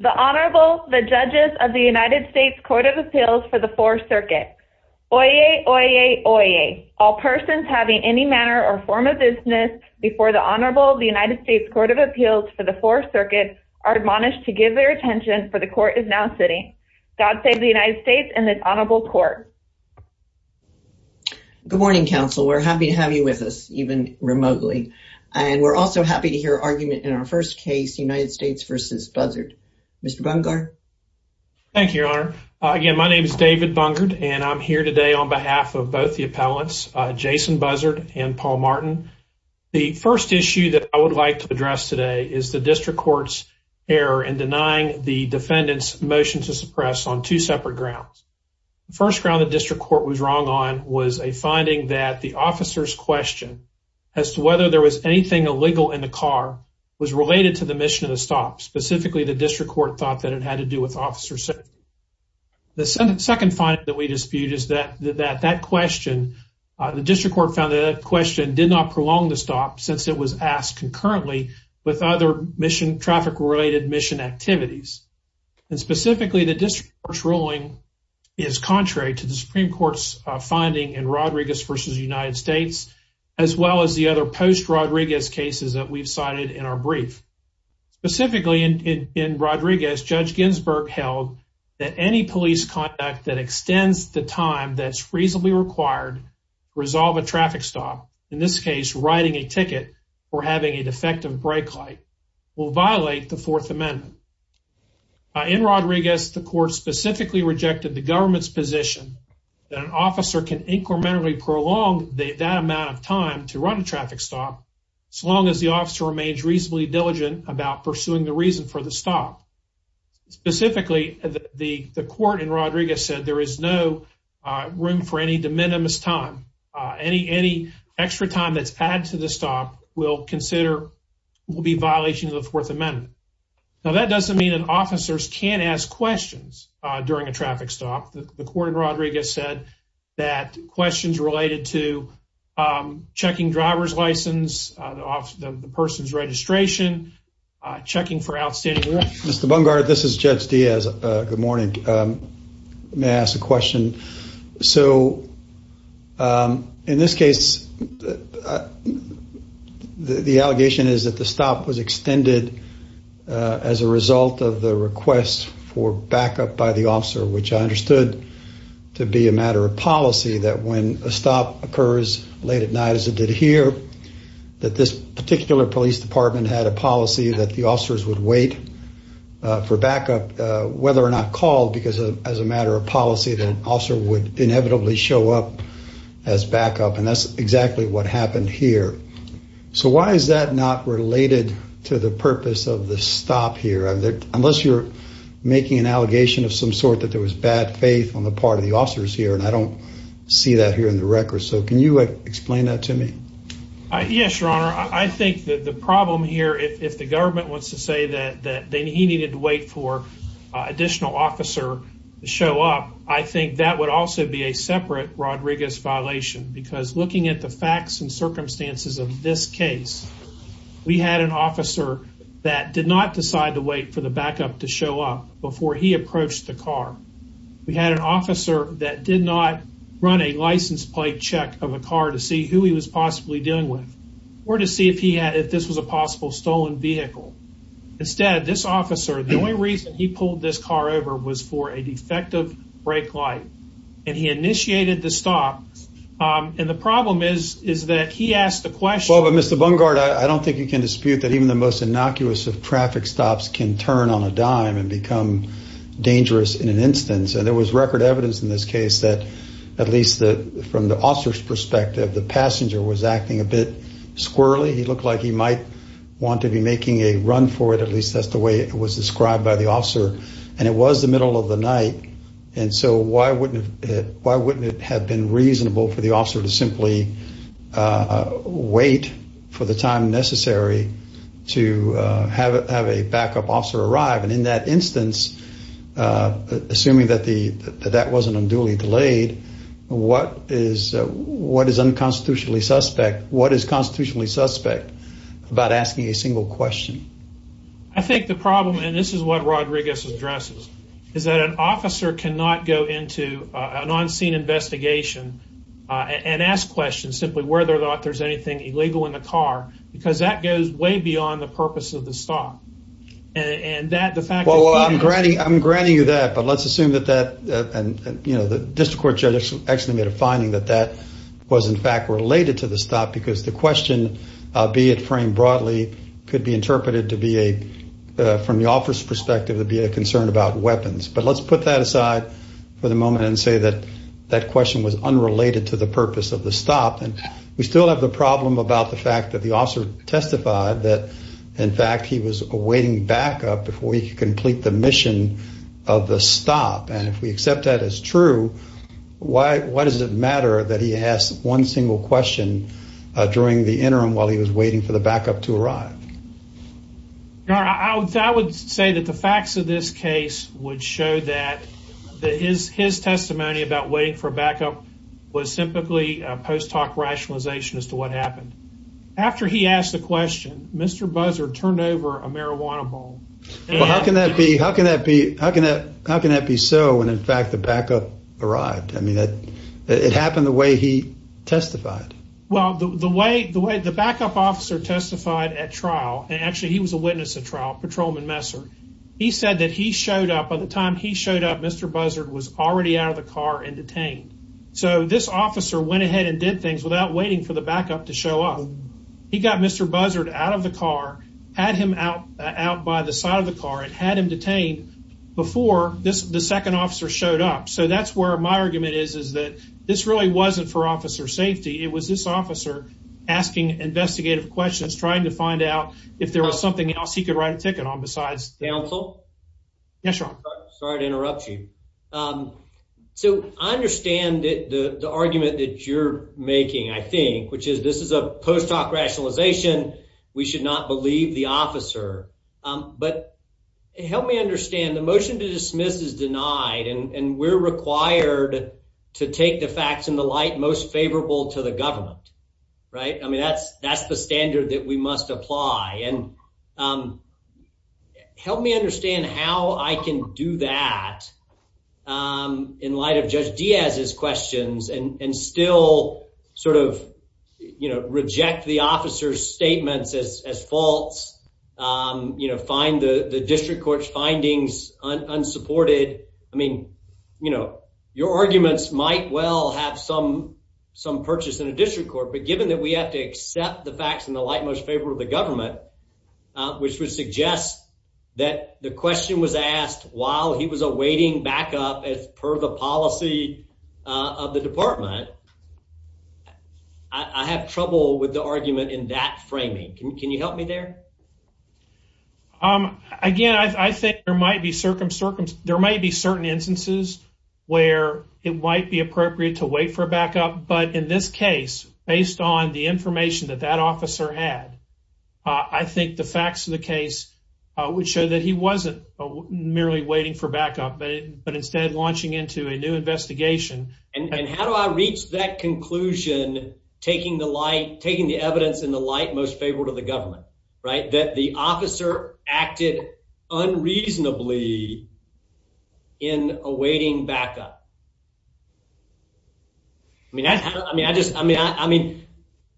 The Honorable, the Judges of the United States Court of Appeals for the Fourth Circuit. Oyez, oyez, oyez. All persons having any manner or form of business before the Honorable of the United States Court of Appeals for the Fourth Circuit are admonished to give their attention for the Court is now sitting. God save the United States and this Honorable Court. Good morning, Counsel. We're happy to have you with us even remotely. And we're also happy to hear argument in our first case, United States v. Buzzard. Mr. Bungard. Thank you, Your Honor. Again, my name is David Bungard and I'm here today on behalf of both the appellants, Jason Buzzard and Paul Martin. The first issue that I would like to address today is the District Court's error in denying the defendant's motion to suppress on two separate grounds. The first ground the District was wrong on was a finding that the officer's question as to whether there was anything illegal in the car was related to the mission of the stop. Specifically, the District Court thought that it had to do with officer safety. The second finding that we dispute is that that question, the District Court found that question did not prolong the stop since it was asked concurrently with other mission traffic related mission activities. And specifically, the District Court's ruling is contrary to the Supreme Court's finding in Rodriguez v. United States, as well as the other post Rodriguez cases that we've cited in our brief. Specifically, in Rodriguez, Judge Ginsburg held that any police conduct that extends the time that's reasonably required to resolve a traffic stop, in this case, writing a ticket or having a defective brake light, will violate the Fourth Amendment. In Rodriguez, the court specifically rejected the government's position that an officer can incrementally prolong that amount of time to run a traffic stop so long as the officer remains reasonably diligent about pursuing the reason for the stop. Specifically, the court in Rodriguez said there is no room for any de minimis time. Any extra time that's added to the stop will be a violation of the Fourth Amendment. Now, that doesn't mean that officers can't ask questions during a traffic stop. The court in Rodriguez said that questions related to checking driver's license, the person's registration, checking for outstanding... Mr. Bungard, this is Judge Diaz. Good morning. May I ask a question? So, in this case, the allegation is that the stop was extended as a result of the request for backup by the officer, which I understood to be a matter of policy that when a stop occurs late at night, as it did here, that this particular police department had a policy that the officers would wait for backup, whether or not called, because as a matter of policy, the officer would inevitably show up as backup, and that's exactly what happened here. So, why is that not related to the purpose of the stop here? Unless you're making an allegation of some sort that there was bad faith on the part of the officers here, and I don't see that here in the record. So, can you explain that to me? Yes, Your Honor. I think that the problem here, if the government wants to say that he needed to wait for an additional officer to show up, I think that would also be a separate Rodriguez violation, because looking at the facts and circumstances of this case, we had an officer that did not decide to wait for the backup to show up before he approached the car. We had an officer that did not run a license plate check of a car to see who he was possibly dealing with, or to see if this was a possible stolen vehicle. Instead, this officer, the only reason he pulled this car over was for a defective brake light, and he initiated the stop, and the problem is that he asked the question... Well, but Mr. Bungard, I don't think you can dispute that even the most innocuous of traffic stops can turn on a dime and become dangerous in an instance, and there was record evidence in this case that, at least from the officer's perspective, the passenger was acting a bit squirrely. He looked like he might want to be making a run for it, at least that's the way it was described by the officer, and it was the middle of the night, and so why wouldn't it have been reasonable for the officer to simply wait for the time necessary to have a backup officer arrive, and in that instance, assuming that that wasn't unduly delayed, what is unconstitutionally suspect? What is constitutionally suspect about asking a single question? I think the problem, and this is what Rodriguez addresses, is that an officer cannot go into an on-scene investigation and ask questions simply whether or not there's anything illegal in the car, because that goes way beyond the purpose of the stop. Well, I'm granting you that, but let's assume that the district court judge actually made a finding that that was in fact related to the stop, because the question, be it framed broadly, could be interpreted from the officer's perspective to be a concern about weapons, but let's put that aside for the moment and say that that question was unrelated to the purpose of the stop, and we still have the problem about the fact that the officer testified that, in fact, he was awaiting backup before he could complete the mission of the stop, and if we accept that as true, why does it matter that he asked one single question during the interim while he was waiting for the backup to arrive? You know, I would say that the facts of this case would show that his testimony about waiting for Mr. Buzzard turned over a marijuana bottle. Well, how can that be so when, in fact, the backup arrived? I mean, it happened the way he testified. Well, the way the backup officer testified at trial, and actually he was a witness at trial, Patrolman Messer, he said that by the time he showed up, Mr. Buzzard was already out of the car and detained, so this officer went ahead and did what he did. He took Mr. Buzzard out of the car, had him out by the side of the car, and had him detained before the second officer showed up, so that's where my argument is, is that this really wasn't for officer safety. It was this officer asking investigative questions, trying to find out if there was something else he could write a ticket on besides counsel. Yes, sir. Sorry to interrupt you. So, I understand the argument that you're making, I think, which is this is a post-hoc rationalization. We should not believe the officer, but help me understand the motion to dismiss is denied, and we're required to take the facts in the light most favorable to the government, right? I mean, that's the standard that we must apply, and help me understand how I can do that in light of Judge Diaz's questions, and still sort of, you know, reject the officer's statements as false, you know, find the district court's findings unsupported. I mean, you know, your arguments might well have some purchase in a district court, but given that we have to accept the facts in the light most favorable to the government, which would suggest that the was awaiting backup as per the policy of the department, I have trouble with the argument in that framing. Can you help me there? Again, I think there might be certain instances where it might be appropriate to wait for backup, but in this case, based on the information that that but instead launching into a new investigation. And how do I reach that conclusion, taking the light, taking the evidence in the light most favorable to the government, right, that the officer acted unreasonably in awaiting backup? I mean, that's, I mean, I just, I mean, I mean,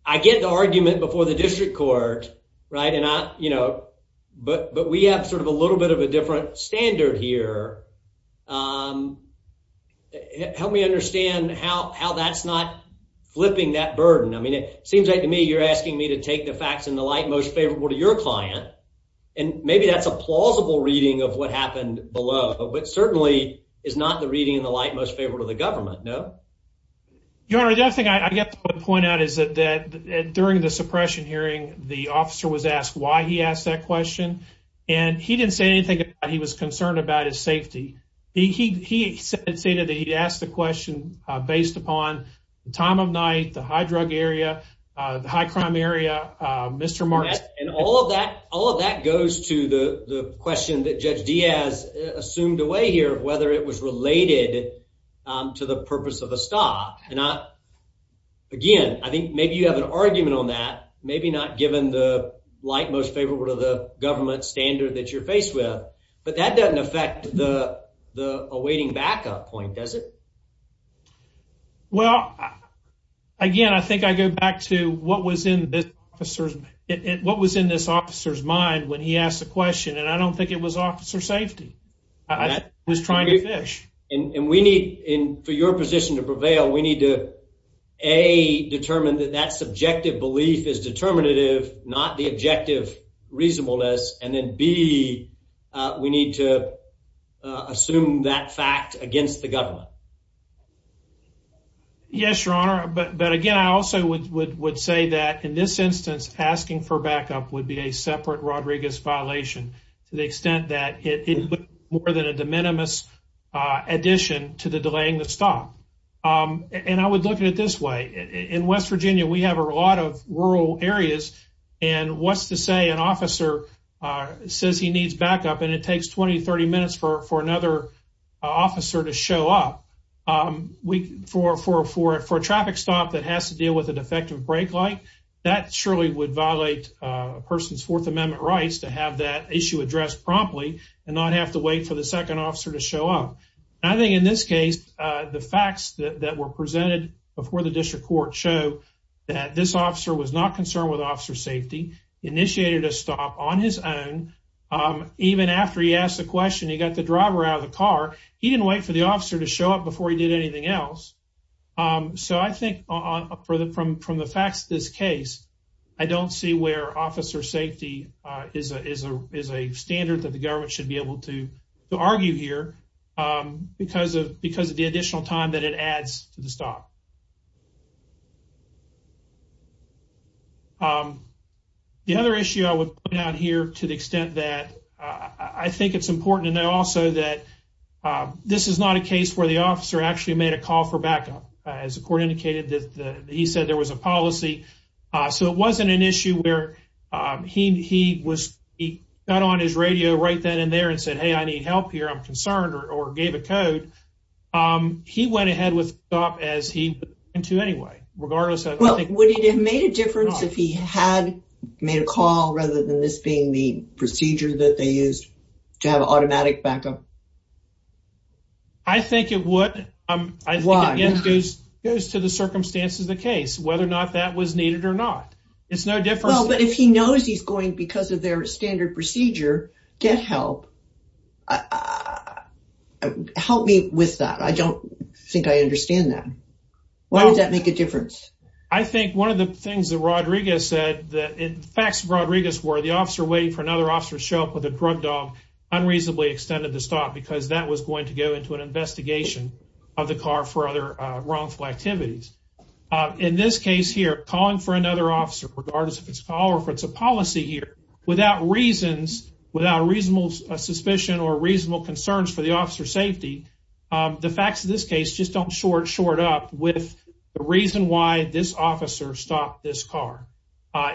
I get the argument before the district court, right, and I, you know, but we have sort of a little bit of a different standard here. Help me understand how that's not flipping that burden. I mean, it seems like to me you're asking me to take the facts in the light most favorable to your client, and maybe that's a plausible reading of what happened below, but certainly is not the reading in the light most favorable to the government, no? Your Honor, the other thing I get to point out is that during the he asked that question, and he didn't say anything about he was concerned about his safety. He stated that he asked the question based upon the time of night, the high drug area, the high crime area, Mr. Marks. And all of that goes to the question that Judge Diaz assumed away here, whether it was related to the purpose of the stop. And I, again, I think maybe you have an argument on that, maybe not given the light most favorable to the government standard that you're faced with, but that doesn't affect the awaiting backup point, does it? Well, again, I think I go back to what was in this officer's mind when he asked the question, and I don't think it was officer safety. I think it was trying to fish. And we need, in for your position to prevail, we need to a determine that that subjective belief is determinative, not the objective reasonableness. And then B, we need to assume that fact against the government. Yes, Your Honor. But again, I also would say that in this instance, asking for backup would be a separate Rodriguez violation to the extent that it more than a minimus addition to the delaying the stop. And I would look at it this way. In West Virginia, we have a lot of rural areas. And what's to say an officer says he needs backup, and it takes 20-30 minutes for another officer to show up for a traffic stop that has to deal with a defective brake light? That surely would violate a person's Fourth Amendment rights to that issue addressed promptly and not have to wait for the second officer to show up. I think in this case, the facts that were presented before the district court show that this officer was not concerned with officer safety, initiated a stop on his own. Even after he asked the question, he got the driver out of the car. He didn't wait for the officer to show up before he did anything else. So I think from the facts of this case, I don't see where officer safety is a standard that the government should be able to argue here because of the additional time that it adds to the stop. The other issue I would point out here, to the extent that I think it's important to know also that this is not a case where the officer actually made a call for backup. As the wasn't an issue where he got on his radio right then and there and said, hey, I need help here, I'm concerned, or gave a code. He went ahead with the stop as he went to anyway. Would it have made a difference if he had made a call rather than this being the procedure that they used to have automatic backup? I think it would. It goes to the It's no different. Well, but if he knows he's going because of their standard procedure, get help. Help me with that. I don't think I understand that. Why does that make a difference? I think one of the things that Rodriguez said, the facts of Rodriguez were the officer waiting for another officer to show up with a drug dog unreasonably extended the stop because that was going to go into an investigation of the car for other wrongful activities. In this case here, calling for another officer, regardless of its color, if it's a policy here without reasons without reasonable suspicion or reasonable concerns for the officer safety, the facts of this case just don't short short up with the reason why this officer stopped this car.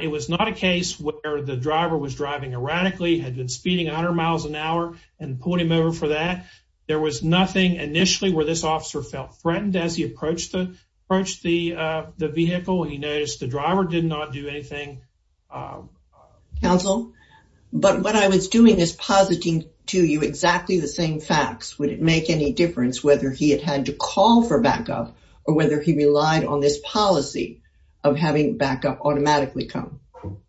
It was not a case where the driver was driving erratically, had been speeding 100 miles an hour and put him over for that. There was nothing initially where this officer felt threatened as he approached the vehicle. He noticed the driver did not do anything. Counsel, but what I was doing is positing to you exactly the same facts. Would it make any difference whether he had had to call for backup or whether he relied on this policy of having backup automatically come?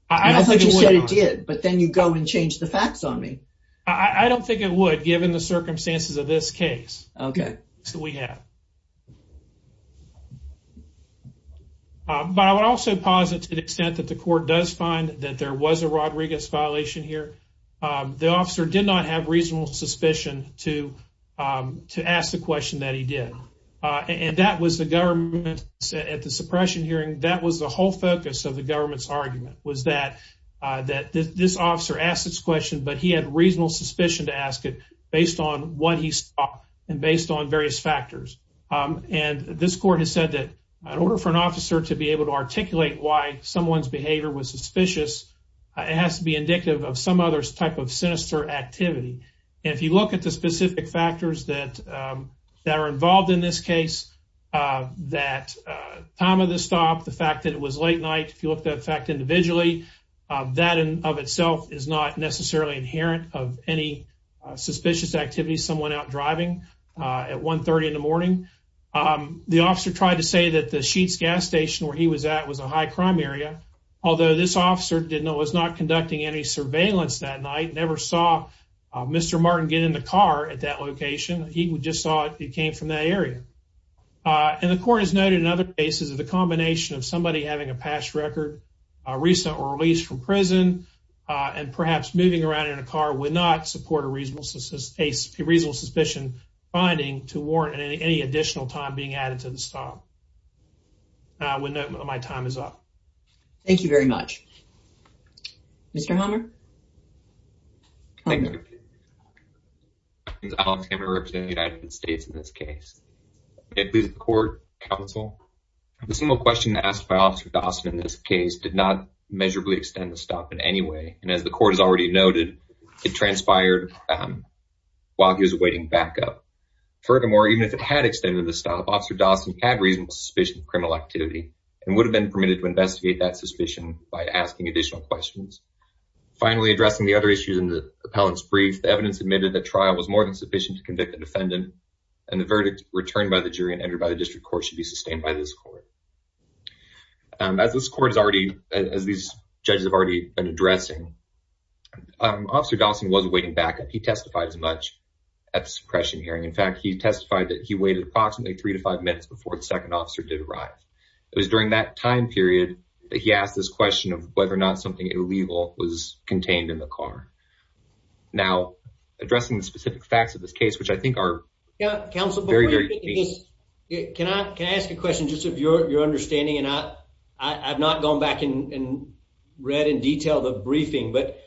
I don't think it did. But then you go and change the facts on me. I don't think it would, given the circumstances of this case. Okay, so we have. Uh, but I would also positive extent that the court does find that there was a Rodriguez violation here. The officer did not have reasonable suspicion to, um, to ask the question that he did on. And that was the government at the suppression hearing. That was the whole focus of the government's argument was that that this officer asked its question, but he had reasonable suspicion to ask it based on what he saw and based on various factors. And this court has said that in order for an officer to be able to articulate why someone's behavior was suspicious, it has to be indicative of some other type of sinister activity. If you look at the specific factors that that are involved in this case, that time of the stop, the fact that it was late night, if you look that fact individually, that of itself is not necessarily inherent of any suspicious activity. Someone out driving at 1 30 in the morning, the officer tried to say that the sheets gas station where he was at was a high crime area. Although this officer didn't was not conducting any surveillance that night, never saw Mr Martin get in the car at that location. He just thought it came from that area on the court is noted. In other cases of the combination of somebody having a past record recent release from prison on perhaps moving around in a car would not support a reasonable a reasonable suspicion finding to warrant any additional time being added to the stop. I would note my time is up. Thank you very much. Mr Hummer. Alex Hummer representing the United States in this case. It is court counsel. The single question asked by Officer Dawson in this case did not measurably extend the stop in any way. And as the court has already noted, it transpired while he was awaiting backup. Furthermore, even if it had extended the stop, Officer Dawson had reasonable suspicion of criminal activity and would have been permitted to investigate that suspicion by asking additional questions. Finally, addressing the other issues in the appellant's brief, the evidence admitted that trial was more than sufficient to convict the defendant and the verdict returned by the jury and entered by the district court should be sustained by this court. As this court is already, as these judges have already been Officer Dawson was waiting backup. He testified as much at the suppression hearing. In fact, he testified that he waited approximately 3-5 minutes before the second officer did arrive. It was during that time period that he asked this question of whether or not something illegal was contained in the car. Now, addressing the specific facts of this case, which I think are counsel very, very, can I can I ask a question just of your understanding? And I've not gone back and read in detail the briefing, but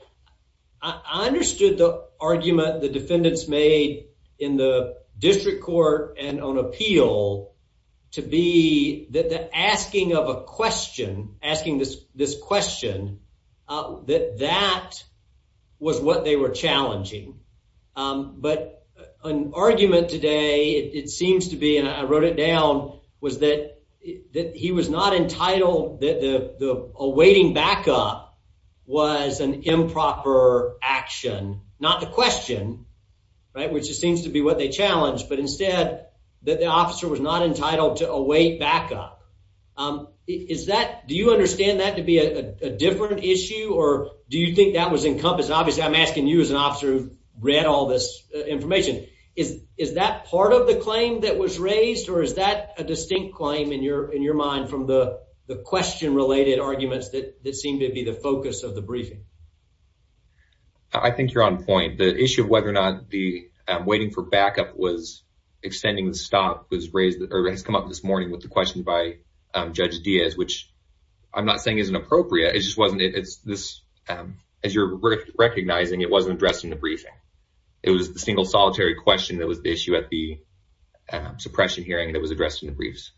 I understood the argument the defendants made in the district court and on appeal to be that the asking of a question, asking this question, that that was what they were challenging. But an argument today, it seems to be, and I wrote it awaiting backup was an improper action, not the question, right, which just seems to be what they challenged. But instead that the officer was not entitled to await backup. Is that do you understand that to be a different issue? Or do you think that was encompassed? Obviously, I'm asking you as an officer who read all this information is is that part of the claim that was raised? Or is that a distinct claim in your in your mind from the question related arguments that seem to be the focus of the briefing? I think you're on point. The issue of whether or not the waiting for backup was extending the stop was raised or has come up this morning with the question by Judge Diaz, which I'm not saying isn't appropriate. It just wasn't. It's this. As you're recognizing, it wasn't addressed in the briefing. It was the single solitary question that was the issue at the suppression hearing that was addressed in the briefs.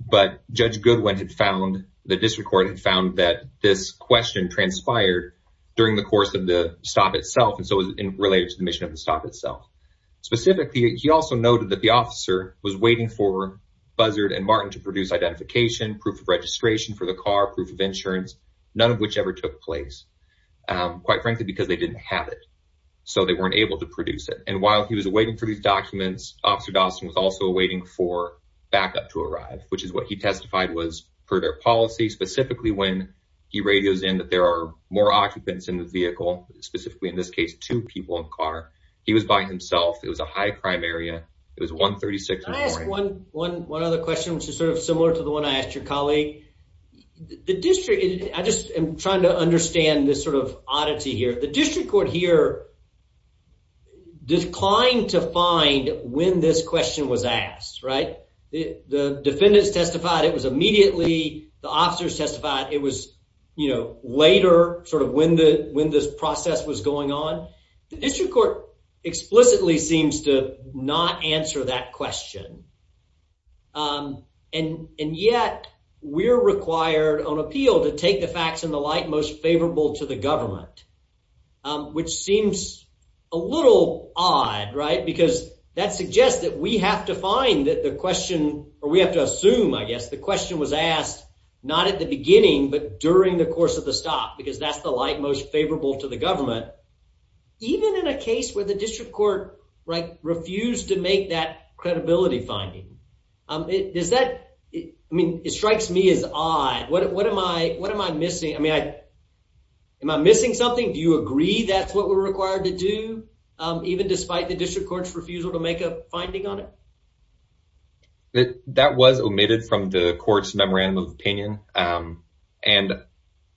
But Judge Goodwin had found, the district court had found that this question transpired during the course of the stop itself. And so it was related to the mission of the stop itself. Specifically, he also noted that the officer was waiting for Buzzard and Martin to produce identification, proof of registration for the car, proof of insurance, none of which ever took place, quite frankly, because they didn't have it. So they weren't able to produce it. And while he was waiting for these documents, Officer Dawson was also waiting for backup to arrive, which is what he testified was for their policy, specifically when he radios in that there are more occupants in the vehicle, specifically in this case, two people in the car. He was by himself. It was a high crime area. It was 136. I asked one one one other question, which is sort of similar to the one I asked your colleague. The district, I just am trying to understand this sort of oddity here. The district court here declined to find when this question was asked, right? The defendants testified it was immediately, the officers testified it was later, sort of when this process was going on. The district court explicitly seems to not answer that question. And and yet we're required on appeal to take the facts in the light most favorable to the government, which seems a little odd, right? Because that suggests that we have to find that the question or we have to assume, I guess the question was asked not at the beginning, but during the course of the stop, because that's the light most favorable to the government. Even in a case where the district court refused to make that credibility finding, is that I mean, it strikes me as odd. What am I what am I missing? I mean, am I missing something? Do you agree that's what we're required to do, even despite the district court's refusal to make a finding on it? That was omitted from the court's memorandum of opinion. And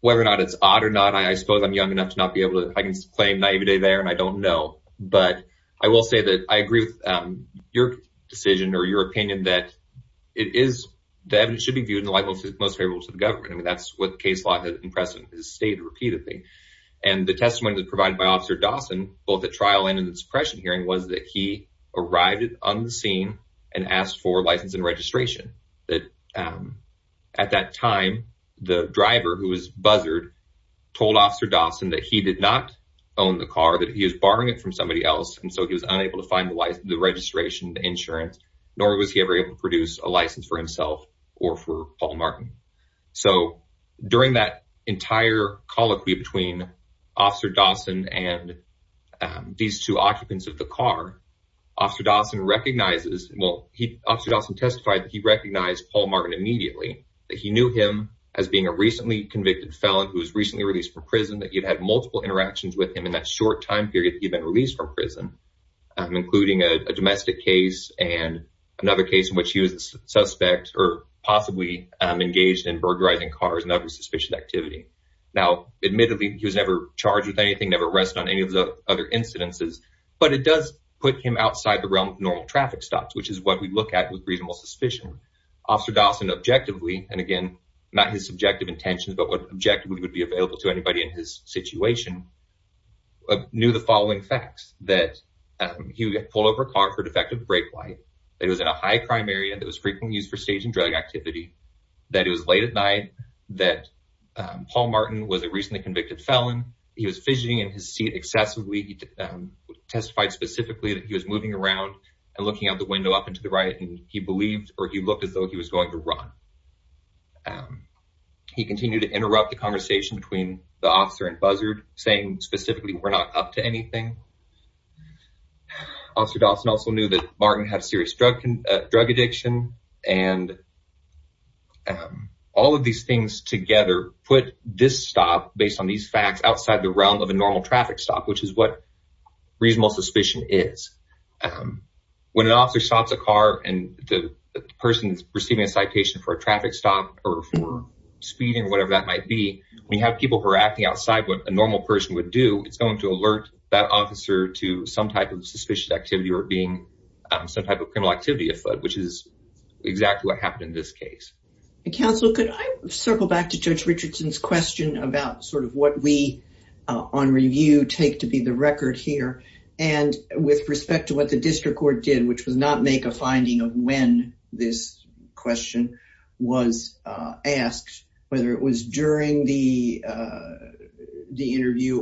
whether or not it's odd or not, I suppose I'm young enough to not be able to, I can claim naivete there and I don't know. But I will say that I agree with your decision or your opinion that it is, the evidence should be viewed in the light most favorable to the government. I mean, that's what case law and precedent has stated repeatedly. And the testimony that provided by Officer Dawson, both at trial and in the suppression hearing, was that he arrived on the scene and asked for license and registration. That at that time, the driver who was buzzered told Officer Dawson that he did not own the car, that he was borrowing it from somebody else. And so he was unable to find the registration, the insurance, nor was he ever able to produce a license for himself or for Paul Martin. So during that entire colloquy between Officer Dawson and these two occupants of the car, Officer Dawson recognizes, well, Officer Dawson testified that he recognized Paul Martin immediately, that he knew him as being a recently convicted felon who was recently released from prison, that he'd had multiple interactions with him in that short time period that he'd been released from prison, including a domestic case and another case in which he was a suspect or possibly engaged in burglarizing cars and other suspicious activity. Now, admittedly, he was never charged with anything, never arrested on any of the other incidences, but it does put him outside the realm of normal traffic stops, which is what we look at with reasonable suspicion. Officer Dawson objectively, and again, not his subjective intentions, but what objectively would be available to anybody in his situation, knew the following facts, that he would get pulled over a car for defective brake light, that he was in a high crime area that was frequently used for staging drug activity, that it was late at night, that Paul Martin was a recently convicted felon. He was fidgeting in his seat excessively. He testified specifically that he was moving around and looking out the window up and to the right, and he believed, or he looked as though he was going to run. He continued to interrupt the conversation between the officer and Buzzard, saying specifically, we're not up to anything. Officer Dawson also knew that Martin had serious drug addiction, and all of these things together put this stop, based on these facts, outside the realm of a normal traffic stop, which is what reasonable suspicion is. When an officer stops a car and the person is receiving a citation for a traffic stop, or for speeding, or whatever that might be, when you have people who are acting outside what a normal person would do, it's going to alert that officer to some type of suspicious activity, being some type of criminal activity, which is exactly what happened in this case. Counsel, could I circle back to Judge Richardson's question about sort of what we, on review, take to be the record here, and with respect to what the district court did, which was not make a finding of when this question was asked, whether it was during the you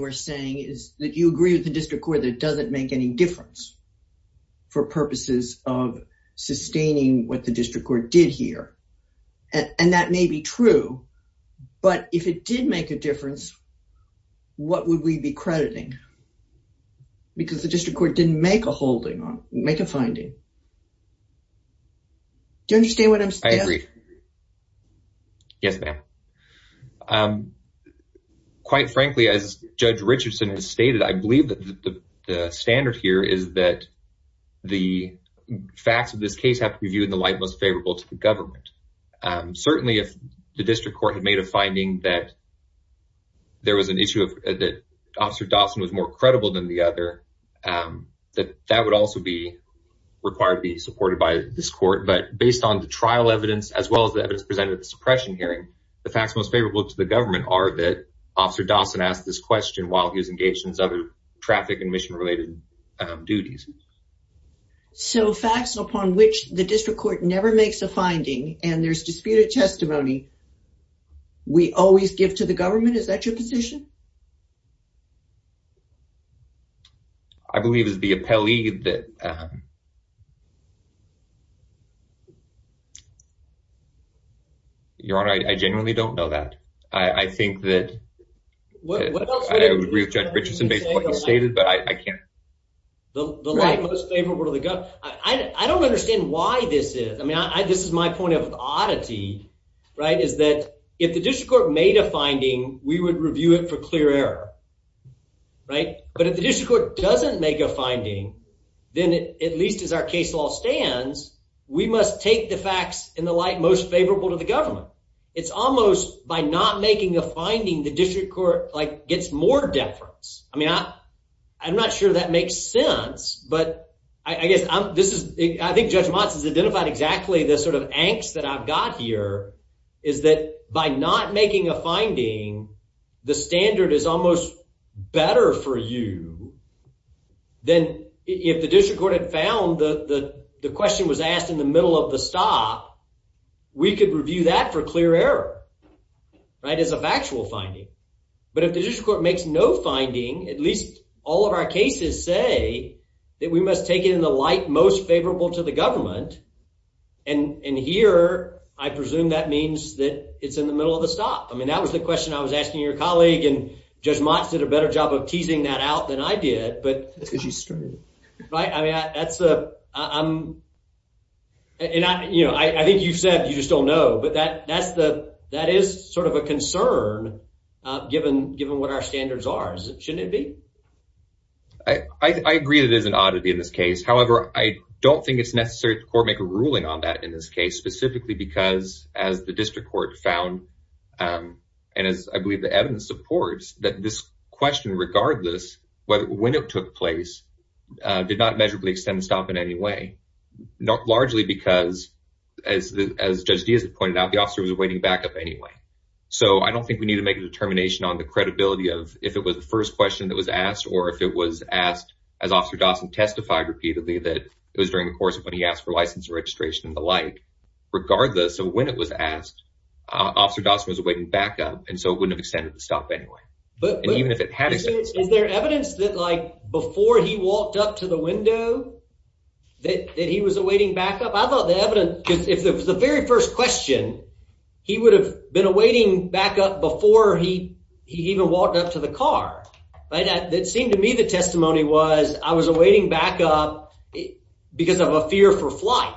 were saying, is that you agree with the district court that it doesn't make any difference for purposes of sustaining what the district court did here. And that may be true, but if it did make a difference, what would we be crediting? Because the district court didn't make a finding. Do you understand what I'm saying? I agree. Yes, ma'am. Quite frankly, as Judge Richardson has stated, I believe the standard here is that the facts of this case have to be viewed in the light most favorable to the government. Certainly, if the district court had made a finding that there was an issue that Officer Dawson was more credible than the other, that would also be required to be supported by this court. But based on the trial evidence, as well as the evidence presented at the suppression hearing, the facts most favorable to the government are that Officer Dawson asked this question while he was engaged in his other traffic and mission-related duties. So, facts upon which the district court never makes a finding, and there's disputed testimony, we always give to the government? Is that your position? I believe it's the appellee that, um, Your Honor, I genuinely don't know that. I think that I would agree with Judge Richardson based on what you stated, but I can't. The light most favorable to the government. I don't understand why this is. I mean, this is my point of oddity, right, is that if the district court made a clear error, right, but if the district court doesn't make a finding, then at least as our case law stands, we must take the facts in the light most favorable to the government. It's almost by not making a finding the district court, like, gets more deference. I mean, I'm not sure that makes sense, but I guess I'm, this is, I think Judge Motz has identified exactly the sort of angst that I've got here is that by not making a finding, the standard is almost better for you than if the district court had found that the question was asked in the middle of the stop, we could review that for clear error, right, as a factual finding. But if the district court makes no finding, at least all of our cases say that we must take it in the light most favorable to the government, and here, I presume that means that it's in the middle of the stop. I mean, that was the question I was asking your colleague, and Judge Motz did a better job of teasing that out than I did, but, right, I mean, that's, and I, you know, I think you said you just don't know, but that's the, that is sort of a concern given what our standards are. Shouldn't it be? I agree that it is an oddity in this case. However, I don't think it's necessary to court make a ruling on that in this case, specifically because, as the district court found, and as I believe the evidence supports, that this question, regardless when it took place, did not measurably extend the stop in any way, largely because, as Judge Diaz had pointed out, the officer was awaiting backup anyway. So I don't think we need to make a determination on the credibility of if it was the first question that was asked or if it was asked as Officer Dawson testified repeatedly that it was during the course of when he asked for license registration and the like. Regardless of when it was asked, Officer Dawson was awaiting backup, and so it wouldn't have extended the stop anyway, and even if it had extended. Is there evidence that, like, before he walked up to the window, that he was awaiting backup? I thought the evidence, because if it was very first question, he would have been awaiting backup before he even walked up to the car. It seemed to me the testimony was, I was awaiting backup because of a fear for flight.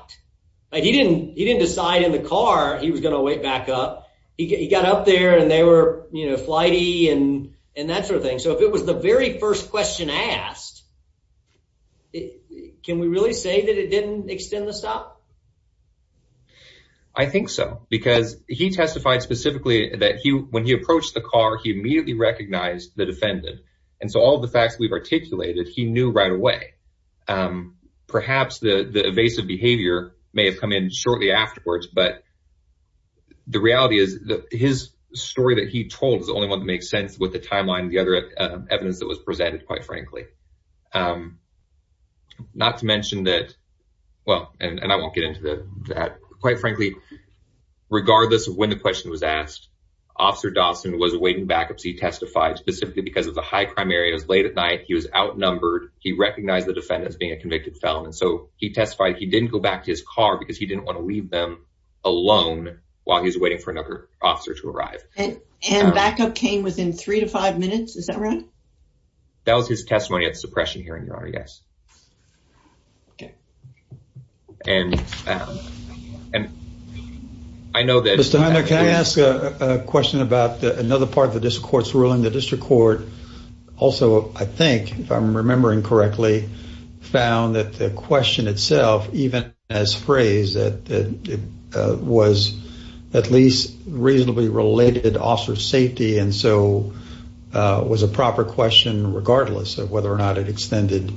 He didn't decide in the car he was going to wait backup. He got up there and they were flighty and that sort of thing. So if it was the very first question asked, can we really say that it didn't extend the stop? I think so, because he testified specifically that he, when he approached the car, he immediately recognized the defendant. And so all the facts we've articulated, he knew right away. Perhaps the evasive behavior may have come in shortly afterwards, but the reality is that his story that he told is the only one that makes sense with the timeline, the other evidence that was presented, quite frankly. Not to mention that, well, and I won't get into that, quite frankly, regardless of when the question was asked, Officer Dawson was awaiting backups. He testified specifically because of the high crime area. It was late at night. He was outnumbered. He recognized the defendant as being a convicted felon, and so he testified he didn't go back to his car because he didn't want to leave them alone while he was waiting for another officer to arrive. And backup came within three to five minutes, is that right? That was his testimony at the suppression hearing, Your Honor, yes. Okay. And I know that- Mr. Hunter, can I ask a question about another part of the district court's ruling? The district court also, I think, if I'm remembering correctly, found that the question itself, even as phrased, that it was at least reasonably related to officer safety and so was a proper question regardless of whether or not it extended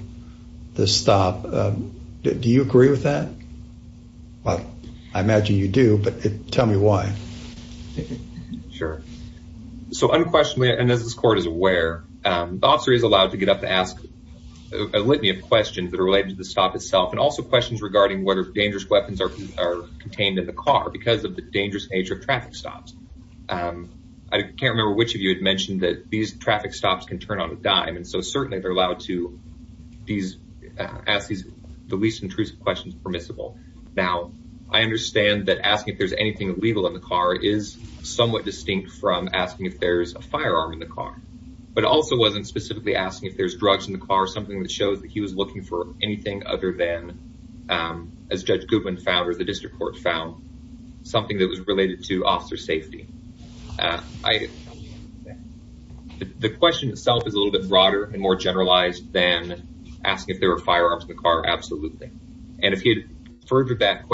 the stop. Do you agree with that? Well, I imagine you do, but tell me why. Sure. So unquestionably, and as this court is aware, the officer is allowed to get up to ask a litany of questions that are related to the stop itself and also questions regarding whether dangerous weapons are contained in the car because of the dangerous nature of traffic stops. I can't remember which of you had mentioned that these traffic stops can turn on a dime, and so certainly they're allowed to ask the least intrusive questions permissible. Now, I understand that asking if there's anything illegal in the car is somewhat distinct from asking if there's a firearm in the car, but it also wasn't specifically asking if there's drugs in the car, something that shows that he was looking for anything other than, as Judge Goodwin found or the district court found, something that was related to officer safety. The question itself is a little bit broader and more generalized than asking if there were firearms in the car, absolutely. And if he had furthered that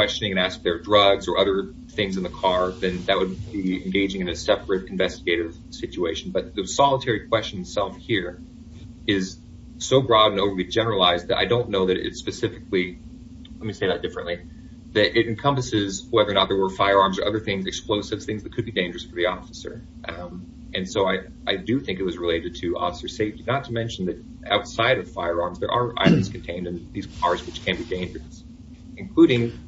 then that would be engaging in a separate investigative situation. But the solitary question itself here is so broad and over-generalized that I don't know that it specifically, let me say that differently, that it encompasses whether or not there were firearms or other things, explosives, things that could be dangerous for the officer. And so I do think it was related to officer safety, not to mention that outside of firearms there are items contained in these cars which can be dangerous, including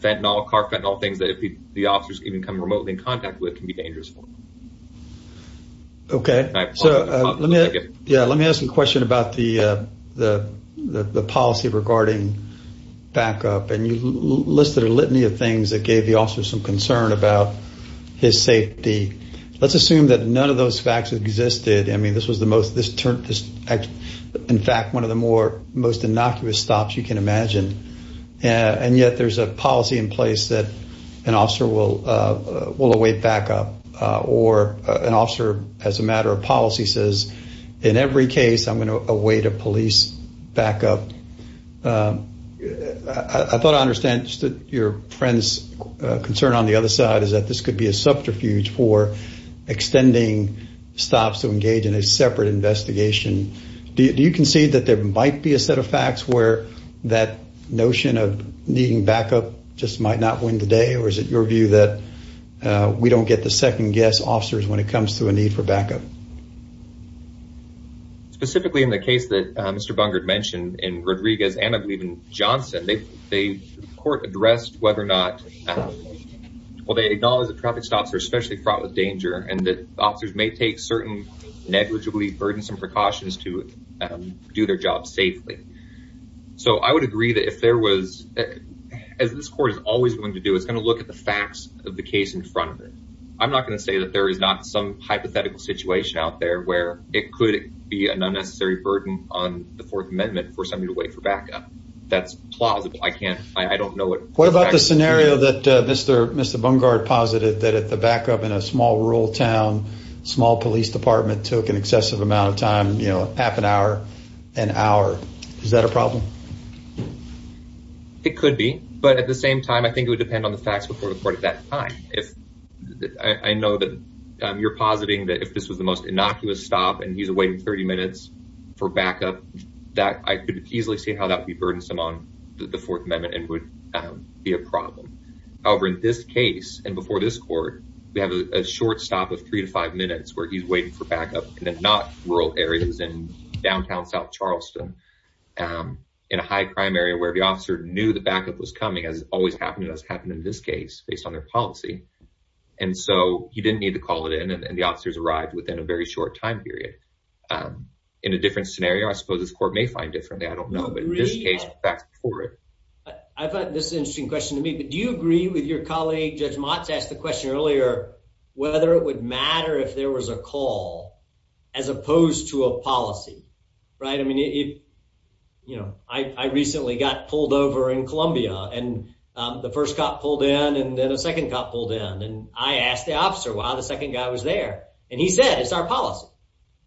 fentanyl, carfentanil, things that if the officers even come remotely in contact with can be dangerous for them. Okay. Yeah, let me ask a question about the policy regarding backup. And you listed a litany of things that gave the officer some concern about his safety. Let's assume that none of those facts existed. I mean, this was the most, in fact, one of the most innocuous stops you can imagine. And yet there's a policy in place that an officer will await backup. Or an officer as a matter of policy says, in every case I'm going to await a police backup. I thought I understand your friend's concern on the other side is that this could be a subterfuge for extending stops to engage in a separate investigation. Do you concede that there might be a set of facts where that notion of needing backup just might not win the day? Or is it your view that we don't get the second guess officers when it comes to a need for backup? Specifically in the case that Mr. Bungard mentioned in Rodriguez and I believe in Johnson, the court addressed whether or not, well, they acknowledge that traffic stops are especially fraught with danger and that burdensome precautions to do their job safely. So I would agree that if there was, as this court is always going to do, it's going to look at the facts of the case in front of it. I'm not going to say that there is not some hypothetical situation out there where it could be an unnecessary burden on the Fourth Amendment for somebody to wait for backup. That's plausible. I can't, I don't know. What about the scenario that Mr. Bungard posited that at the backup in a small rural town, small police department took an excessive amount of time, you know, half an hour, an hour. Is that a problem? It could be. But at the same time, I think it would depend on the facts before the court at that time. I know that you're positing that if this was the most innocuous stop and he's waiting 30 minutes for backup, I could easily see how that would be burdensome on the Fourth Amendment and would be a problem. However, in this case and before this court, we have a short stop of three to five minutes where he's waiting for backup in the not rural areas in downtown South Charleston, in a high crime area where the officer knew the backup was coming, as always happened to us, happened in this case, based on their policy. And so he didn't need to call it in and the officers arrived within a very short time period. In a different scenario, I suppose this court may find differently. I don't know, but in this case, back for it. I thought this is an interesting question to me. But do you agree with your colleague, Judge Motz asked the question earlier, whether it would matter if there was a call as opposed to a policy? Right. I mean, you know, I recently got pulled over in Columbia and the first cop pulled in and then a second cop pulled in. And I asked the officer why the second guy was there. And he said, it's our policy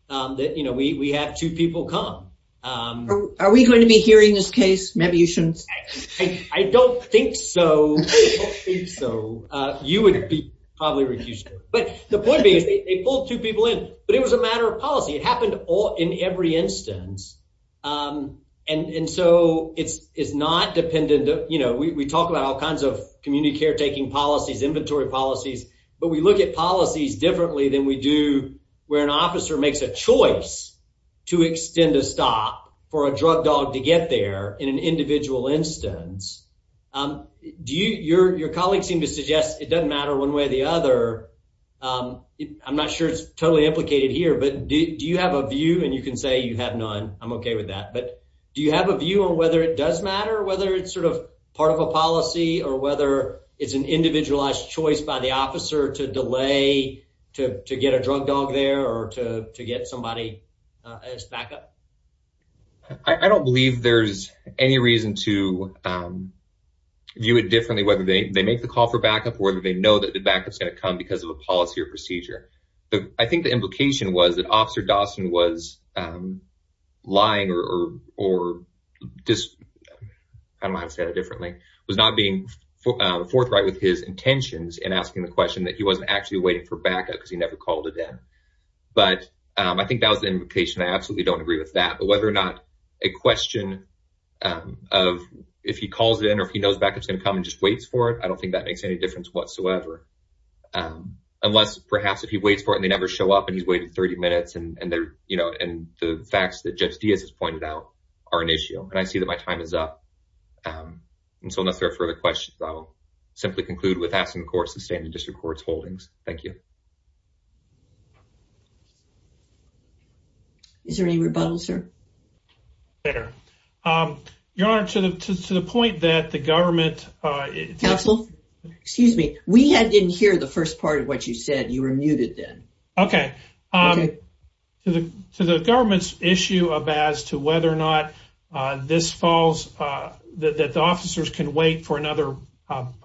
that, you know, we have two people come. Are we going to be hearing this case? Maybe you shouldn't. I don't think so. So you would be probably refused. But the point is they pulled two people in. But it was a matter of policy. It happened all in every instance. And so it's not dependent. You know, we talk about all kinds of community caretaking policies, inventory policies, but we look at policies differently than we do where an officer makes a choice to extend a stop for a drug dog to get there in an individual instance. Do you your colleagues seem to suggest it doesn't matter one way or the other? I'm not sure it's totally implicated here, but do you have a view? And you can say you have none. I'm OK with that. But do you have a view on whether it does matter, whether it's sort of part of a policy or whether it's an individualized choice by the officer to delay to get a drug dog there or to get somebody as backup? I don't believe there's any reason to view it differently, whether they make the call for backup or whether they know that the backup is going to come because of a policy or procedure. I think the implication was that Officer Dawson was lying or, I don't know how to say that differently, was not being forthright with his intentions and asking the question that he wasn't actually waiting for backup because he never called it in. But I think that was the implication. I absolutely don't agree with that. But whether or not a question of if he calls it in or if he knows backup is going to come and just waits for it, I don't think that makes any difference whatsoever. Unless perhaps if he waits for it and they never show up and he's waited 30 minutes and the facts that Judge Diaz has pointed out are an issue. And I see that my time is up. And so unless there are further questions, I'll simply conclude with asking the court holdings. Thank you. Is there any rebuttal, sir? There. Your Honor, to the point that the government... Counsel, excuse me. We didn't hear the first part of what you said. You were muted then. Okay. To the government's issue as to whether or not the officers can wait for another criminal activity,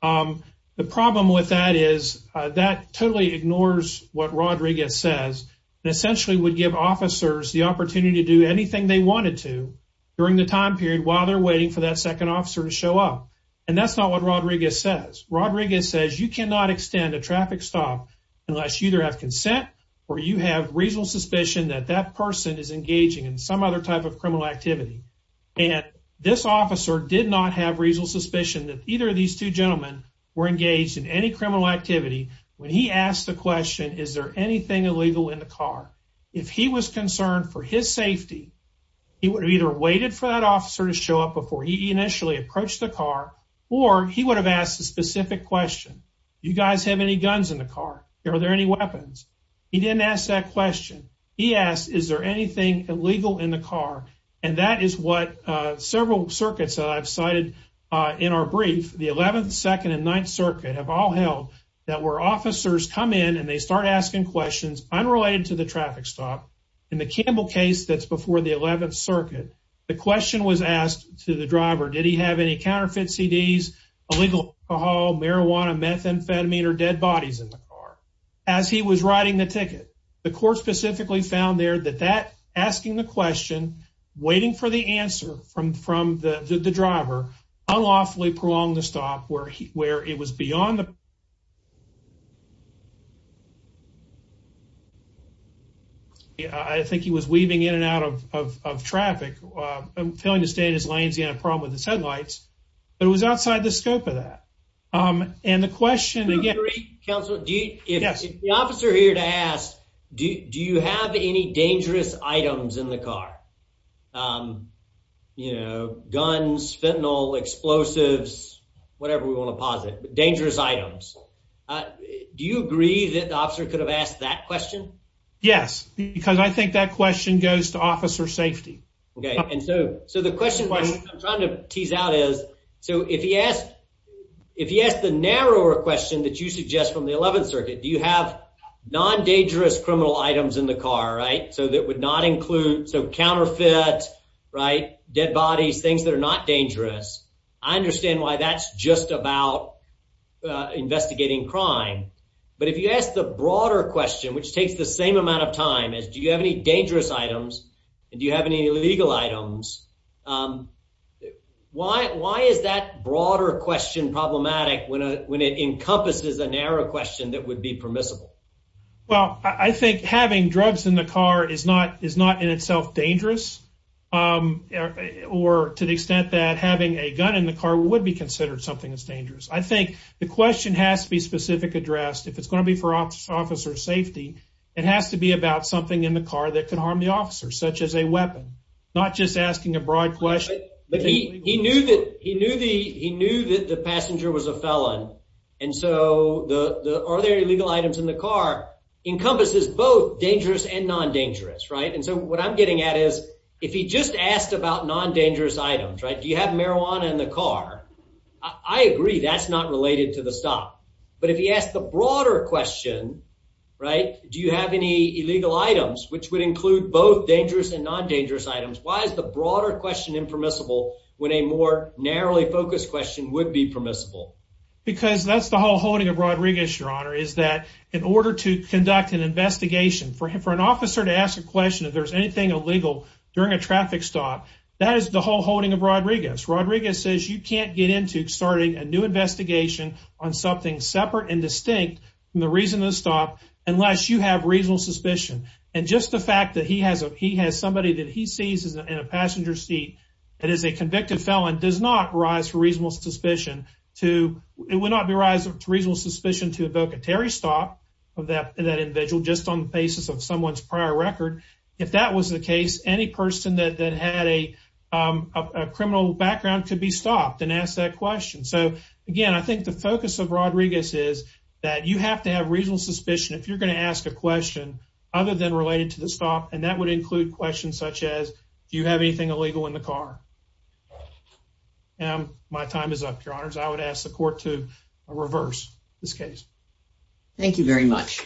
the problem with that is that totally ignores what Rodriguez says and essentially would give officers the opportunity to do anything they wanted to during the time period while they're waiting for that second officer to show up. And that's not what Rodriguez says. Rodriguez says you cannot extend a traffic stop unless you either have consent or you have reasonable suspicion that that person is engaging in some other type of criminal activity. And this officer did not have reasonable suspicion that either of these two gentlemen were engaged in any criminal activity when he asked the question, is there anything illegal in the car? If he was concerned for his safety, he would have either waited for that officer to show up before he initially approached the car, or he would have asked a specific question. Do you guys have any guns in the car? Are there any weapons? He didn't ask that question. He asked, is there anything illegal in the car? And that is what several circuits that I've cited in our brief, the 11th, 2nd, and 9th Circuit, have all held, that where officers come in and they start asking questions unrelated to the traffic stop, in the Campbell case that's before the 11th Circuit, the question was asked to the driver, did he have any counterfeit CDs, illegal alcohol, marijuana, methamphetamine, or dead bodies in the car? As he was writing the ticket, the court specifically found there that asking the question, waiting for the answer from the driver, unlawfully prolonged the stop where it was beyond the... I think he was weaving in and out of traffic, failing to stay in his lanes, he had a problem with the sedlights, but it was outside the scope of that. And the question again... The officer here to ask, do you have any dangerous items in the car? You know, guns, fentanyl, explosives, whatever we want to posit, dangerous items. Do you agree that the officer could have asked that question? Yes, because I think that question goes to officer safety. Okay, and so the question I'm trying to tease out is, so if he asked the narrower question that you suggest from the 11th Circuit, do you have non-dangerous criminal items in the car, right? So that would not include, so counterfeit, right? Dead bodies, things that are not dangerous. I understand why that's just about investigating crime. But if you ask the broader question, which takes the same amount of time, is do you have any dangerous items? And do you have any illegal items? Why is that broader question problematic when it encompasses a narrow question that would be permissible? Well, I think having drugs in the car is not in itself dangerous, or to the extent that having a gun in the car would be considered something that's dangerous. I think the question has to be specific addressed. If it's going to be for officer safety, it has to be about something in the car that could harm the officer, such as a the, are there illegal items in the car, encompasses both dangerous and non-dangerous, right? And so what I'm getting at is, if he just asked about non-dangerous items, right, do you have marijuana in the car? I agree that's not related to the stop. But if he asked the broader question, right, do you have any illegal items, which would include both dangerous and non-dangerous items, why is the broader question impermissible when a more narrowly focused question would be permissible? Because that's the whole holding of Rodriguez, Your Honor, is that in order to conduct an investigation, for an officer to ask a question if there's anything illegal during a traffic stop, that is the whole holding of Rodriguez. Rodriguez says you can't get into starting a new investigation on something separate and distinct from the reason of the stop unless you have reasonable suspicion. And just the fact that he has somebody that he sees in a passenger seat that is a convicted felon does not rise for reasonable suspicion to, it would not be rise of reasonable suspicion to evoke a Terry stop of that individual just on the basis of someone's prior record. If that was the case, any person that had a criminal background could be stopped and ask that question. So again, I think the focus of Rodriguez is that you have to have reasonable suspicion if you're going to ask a question other than related to the stop, and that would include questions such as, do you have anything illegal in the car? And my time is up, Your Honors. I would ask the court to reverse this case. Thank you very much.